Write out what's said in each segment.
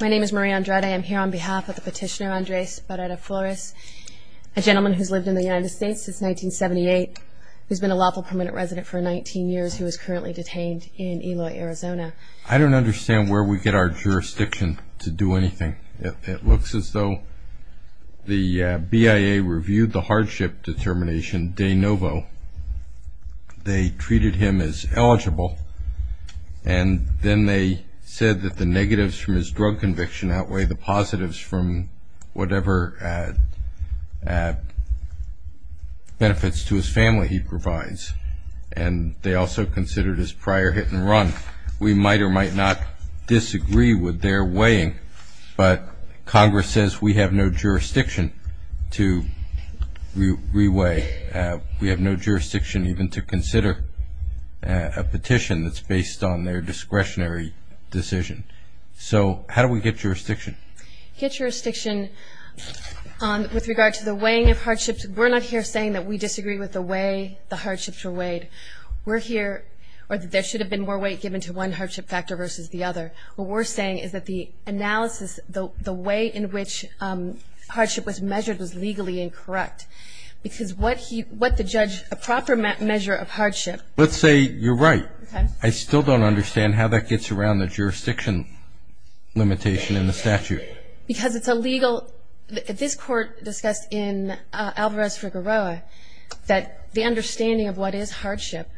My name is Marie Andrade. I am here on behalf of the petitioner Andres Barrera-Flores, a gentleman who's lived in the United States since 1978, who's been a lawful permanent resident for 19 years, who is currently detained in Eloy, Arizona. I don't understand where we get our jurisdiction to do anything. It looks as though the BIA reviewed the hardship determination de novo. They treated him as eligible, and then they said that the negatives from his drug conviction outweigh the positives from whatever benefits to his family he provides. And they also considered his prior hit and run. We might or might not disagree with their weighing, but Congress says we have no jurisdiction to re-weigh. We have no jurisdiction even to consider a petition that's based on their discretionary decision. So how do we get jurisdiction? Get jurisdiction with regard to the weighing of hardships. We're not here saying that we disagree with the way the hardships were weighed. We're here, or that there should have been more weight given to one hardship factor versus the other. What we're saying is that the analysis, the way in which hardship was measured was legally incorrect, because what the judge, a proper measure of hardship Let's say you're right. I still don't understand how that gets around the jurisdiction limitation in the statute. Because it's illegal. This court discussed in Alvarez-Figueroa that the understanding of what is hardship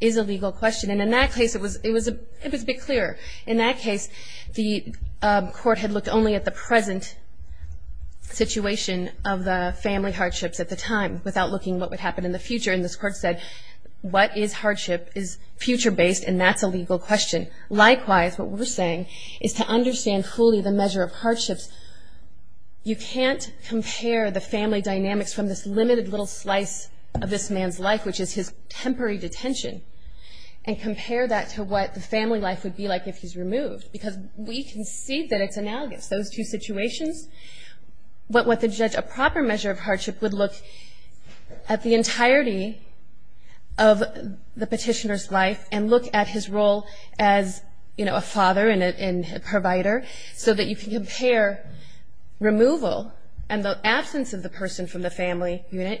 is a legal question. And in that case, it was a bit clearer. In that case, the court had looked only at the present situation of the family hardships at the time, without looking at what would happen in the future. And this court said, what is hardship is future-based, and that's a legal question. Likewise, what we're saying is to understand fully the measure of hardships. You can't compare the family dynamics from this limited little slice of this man's life, which is his temporary detention, and compare that to what the family life would be like if he's removed. Because we can see that it's analogous. Those two situations. But what the judge, a proper measure of hardship, would look at the entirety of the petitioner's life, and look at his role as a father and a provider, so that you can compare removal and the absence of the person from the family unit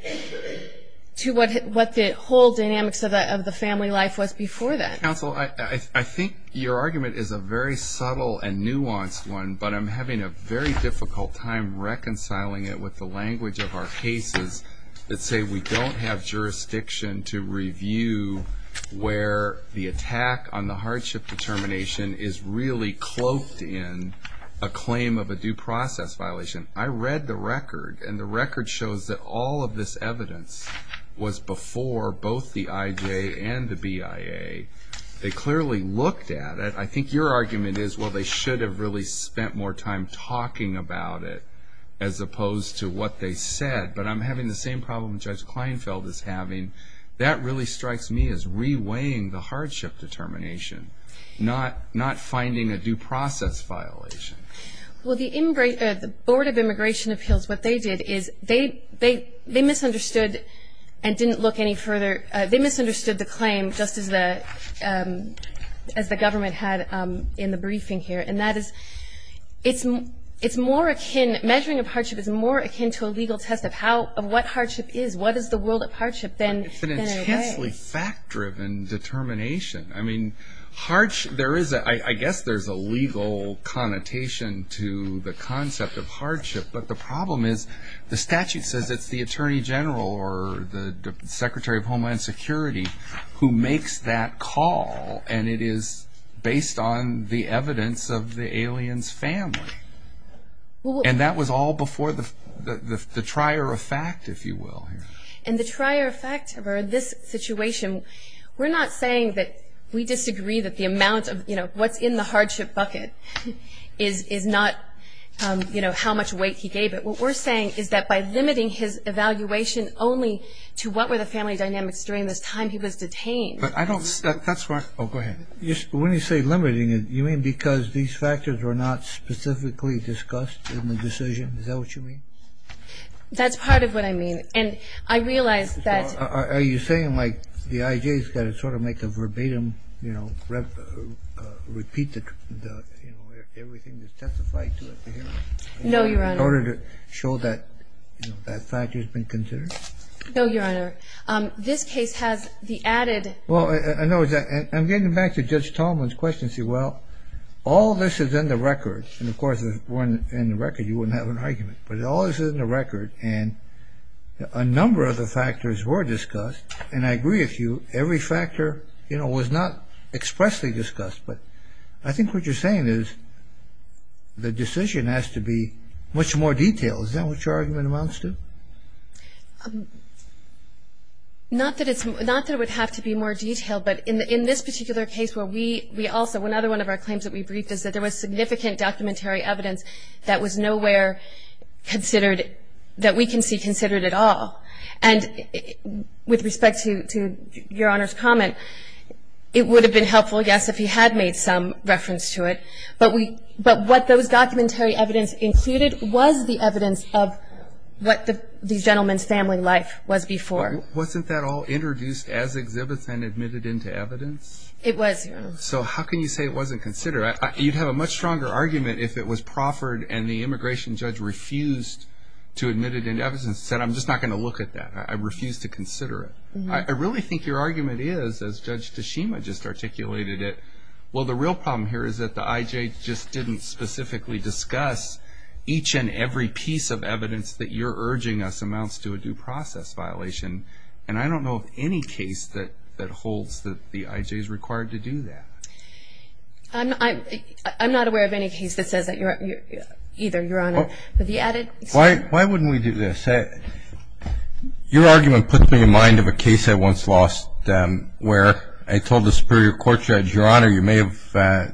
to what the whole dynamics of the family life was before that. Counsel, I think your argument is a very subtle and nuanced one, but I'm having a very difficult time reconciling it with the language of our cases that say we don't have jurisdiction to review where the attack on the hardship determination is really cloaked in a claim of a due process violation. I read the record, and the record shows that all of this evidence was before both the IJ and the BIA. They clearly looked at it. I think your argument is, well, they should have really spent more time talking about it, as opposed to what they said. But I'm having the same problem Judge Kleinfeld is having. That really strikes me as reweighing the hardship determination, not finding a due process violation. Well, the Board of Immigration Appeals, what they did is they misunderstood and didn't look any further. They misunderstood the claim, just as the government had in the briefing here, and that is it's more akin, measuring of hardship is more akin to a legal test of what hardship is, what is the world of hardship than it is. It's an intensely fact-driven determination. I mean, I guess there's a legal connotation to the concept of hardship, but the problem is the statute says it's the Attorney General or the Secretary of Homeland Security who makes that call, and it is based on the evidence of the alien's family. And that was all before the trier of fact, if you will. And the trier of fact for this situation, we're not saying that we disagree that the amount of, you know, what's in the hardship bucket is not, you know, how much weight he gave it. What we're saying is that by limiting his evaluation only to what were the family dynamics during this time he was detained. But I don't – that's why – oh, go ahead. When you say limiting it, you mean because these factors were not specifically discussed in the decision? Is that what you mean? That's part of what I mean. And I realize that – Are you saying, like, the IJ's got to sort of make a verbatim, you know, repeat the, you know, everything that's testified to it? No, Your Honor. In order to show that, you know, that factor's been considered? No, Your Honor. This case has the added – Well, I know it's – I'm getting back to Judge Tallman's question, see, well, all this is in the record. And, of course, if it weren't in the record, you wouldn't have an argument. But all this is in the record, and a number of the factors were discussed. And I agree with you, every factor, you know, was not expressly discussed. But I think what you're saying is the decision has to be much more detailed. Is that what your argument amounts to? Not that it's – not that it would have to be more detailed, but in this particular case where we also – another one of our claims that we briefed is that there was significant documentary evidence that was nowhere considered – that we can see considered at all. And with respect to Your Honor's comment, it would have been helpful, yes, if he had made some reference to it. But we – but what those documentary evidence included was the evidence of what the gentleman's family life was before. Wasn't that all introduced as exhibits and admitted into evidence? It was, Your Honor. So how can you say it wasn't considered? You'd have a much stronger argument if it was proffered and the immigration judge refused to admit it into evidence and said, I'm just not going to look at that. I refuse to consider it. I really think your argument is, as Judge Tashima just articulated it, well, the real problem here is that the IJ just didn't specifically discuss each and every piece of evidence that you're urging us amounts to a due process violation. And I don't know of any case that holds that the IJ is required to do that. I'm not aware of any case that says that either, Your Honor. Why wouldn't we do this? Your argument puts me in mind of a case I once lost where I told the Superior Court Judge, Your Honor, you may have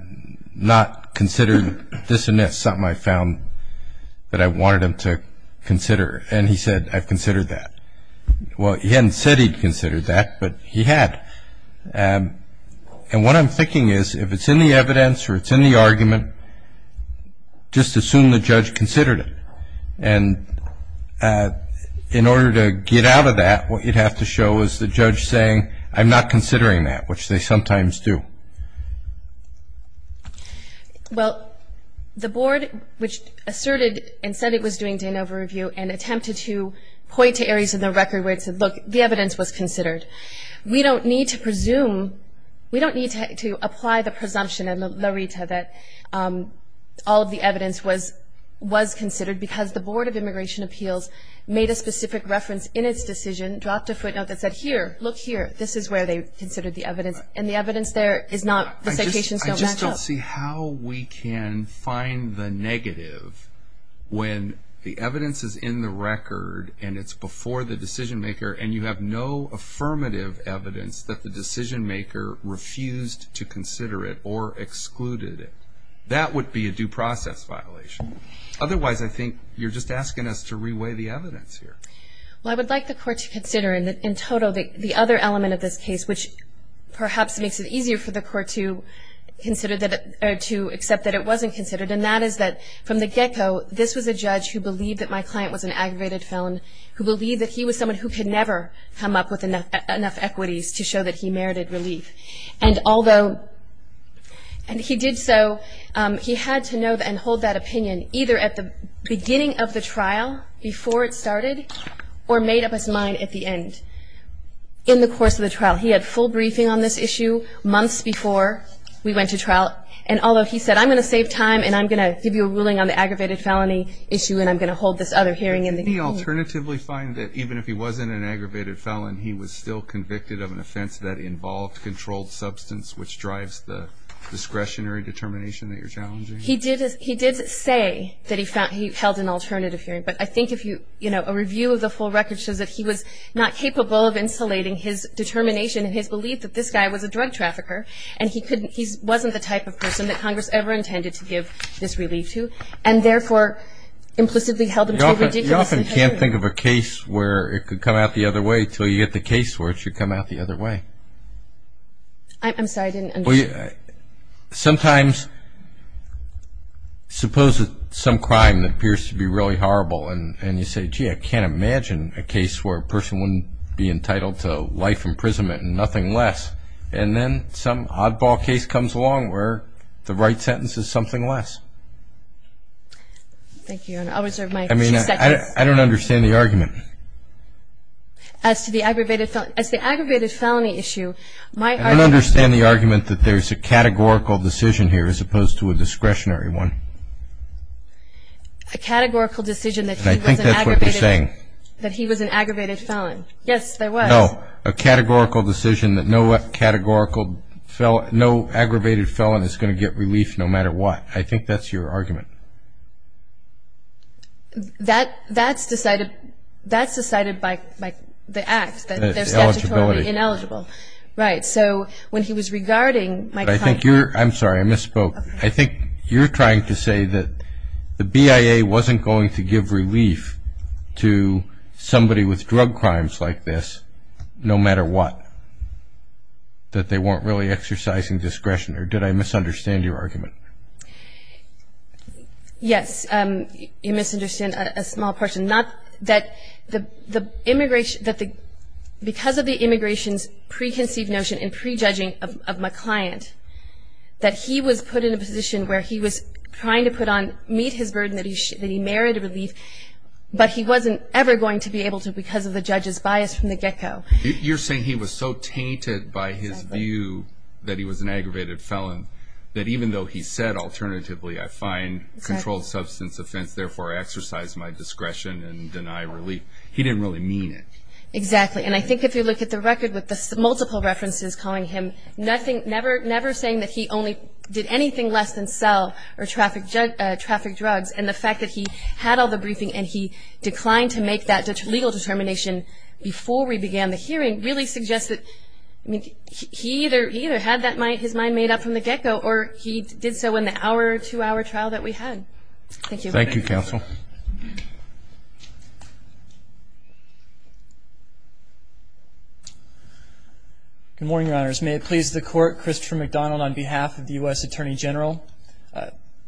not considered this and this, something I found that I wanted him to consider. And he said, I've considered that. Well, he hadn't said he'd considered that, but he had. And what I'm thinking is, if it's in the evidence or it's in the argument, just assume the judge considered it. And in order to get out of that, what you'd have to show is the judge saying, I'm not considering that, which they sometimes do. Well, the Board, which asserted and said it was doing de novo review and attempted to point to areas in the record where it said, look, the evidence was considered. We don't need to presume, we don't need to apply the presumption in the LARITA that all of the evidence was considered because the Board of Immigration Appeals made a specific reference in its decision, dropped a footnote that said, here, look here, this is where they considered the evidence. And the evidence there is not, the citations don't match up. I just don't see how we can find the negative when the evidence is in the record and it's before the decision-maker and you have no affirmative evidence that the decision-maker refused to consider it or excluded it. That would be a due process violation. Otherwise, I think you're just asking us to re-weigh the evidence here. Well, I would like the Court to consider in total the other element of this case, which perhaps makes it easier for the Court to consider that, or to accept that it wasn't considered, and that is that from the get-go, this was a judge who believed that my client was an aggravated felon, who believed that he was someone who could never come up with enough equities to show that he merited relief. And although, and he did so, he had to know and hold that opinion, either at the beginning of the trial, before it started, or made up his mind at the end. In the course of the trial, he had full briefing on this issue months before we went to trial, and although he said, I'm going to save time and I'm going to give you a ruling on the aggravated felony issue and I'm going to hold this other hearing in the future. Didn't he alternatively find that even if he wasn't an aggravated felon, he was still convicted of an offense that involved controlled substance, which drives the discretionary determination that you're challenging? He did say that he held an alternative hearing, but I think if you, you know, a review of the full record shows that he was not capable of insulating his determination and his belief that this guy was a drug trafficker, and he wasn't the type of person that Congress ever intended to give this relief to, and therefore implicitly held him to a ridiculous imperative. You often can't think of a case where it could come out the other way until you get the case where it should come out the other way. I'm sorry, I didn't understand. Well, sometimes suppose that some crime appears to be really horrible and you say, gee, I can't imagine a case where a person wouldn't be entitled to life imprisonment and nothing less, and then some oddball case comes along where the right sentence is something less. Thank you. I'll reserve my two seconds. I mean, I don't understand the argument. As to the aggravated felony issue, my argument… There's a categorical decision here as opposed to a discretionary one. A categorical decision that he was an aggravated… And I think that's what you're saying. That he was an aggravated felon. Yes, there was. No, a categorical decision that no aggravated felon is going to get relief no matter what. I think that's your argument. That's decided by the act, that they're statutorily ineligible. Eligibility. Right. So when he was regarding my client… I think you're… I'm sorry, I misspoke. I think you're trying to say that the BIA wasn't going to give relief to somebody with drug crimes like this no matter what. That they weren't really exercising discretion. Or did I misunderstand your argument? Yes, you misunderstand a small portion. Because of the immigration's preconceived notion and prejudging of my client, that he was put in a position where he was trying to meet his burden that he merited relief, but he wasn't ever going to be able to because of the judge's bias from the get-go. You're saying he was so tainted by his view that he was an aggravated felon that even though he said, alternatively, I find controlled substance offense, therefore I exercise my discretion and deny relief. He didn't really mean it. Exactly. And I think if you look at the record with the multiple references calling him nothing, never saying that he only did anything less than sell or traffic drugs, and the fact that he had all the briefing and he declined to make that legal determination before we began the hearing, really suggests that he either had his mind made up from the get-go or he did so in the hour-to-hour trial that we had. Thank you. Thank you, Counsel. Good morning, Your Honors. May it please the Court, Christopher McDonald on behalf of the U.S. Attorney General.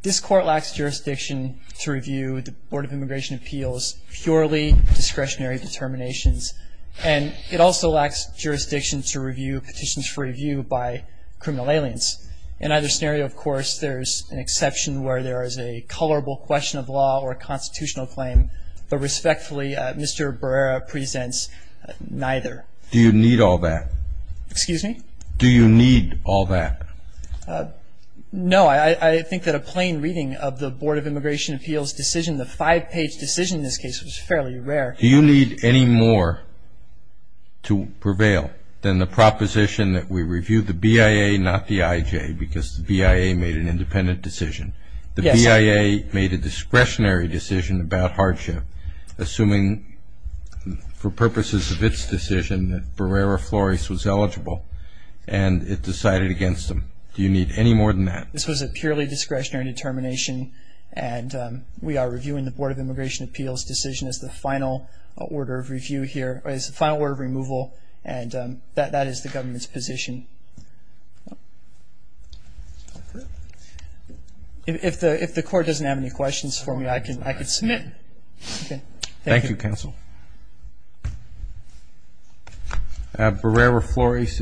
This Court lacks jurisdiction to review the Board of Immigration Appeals purely discretionary determinations, and it also lacks jurisdiction to review petitions for review by criminal aliens. In either scenario, of course, there's an exception where there is a colorable question of law or a constitutional claim, but respectfully, Mr. Barrera presents neither. Do you need all that? Excuse me? Do you need all that? No. I think that a plain reading of the Board of Immigration Appeals decision, the five-page decision in this case, was fairly rare. Do you need any more to prevail than the proposition that we review the BIA, not the IJ, because the BIA made an independent decision? Yes. The BIA made a discretionary decision about hardship, assuming for purposes of its decision that Barrera Flores was eligible, and it decided against him. Do you need any more than that? This was a purely discretionary determination, and we are reviewing the Board of Immigration Appeals decision as the final order of removal, and that is the government's position. If the Court doesn't have any questions for me, I can submit. Thank you, Counsel. Barrera Flores is submitted.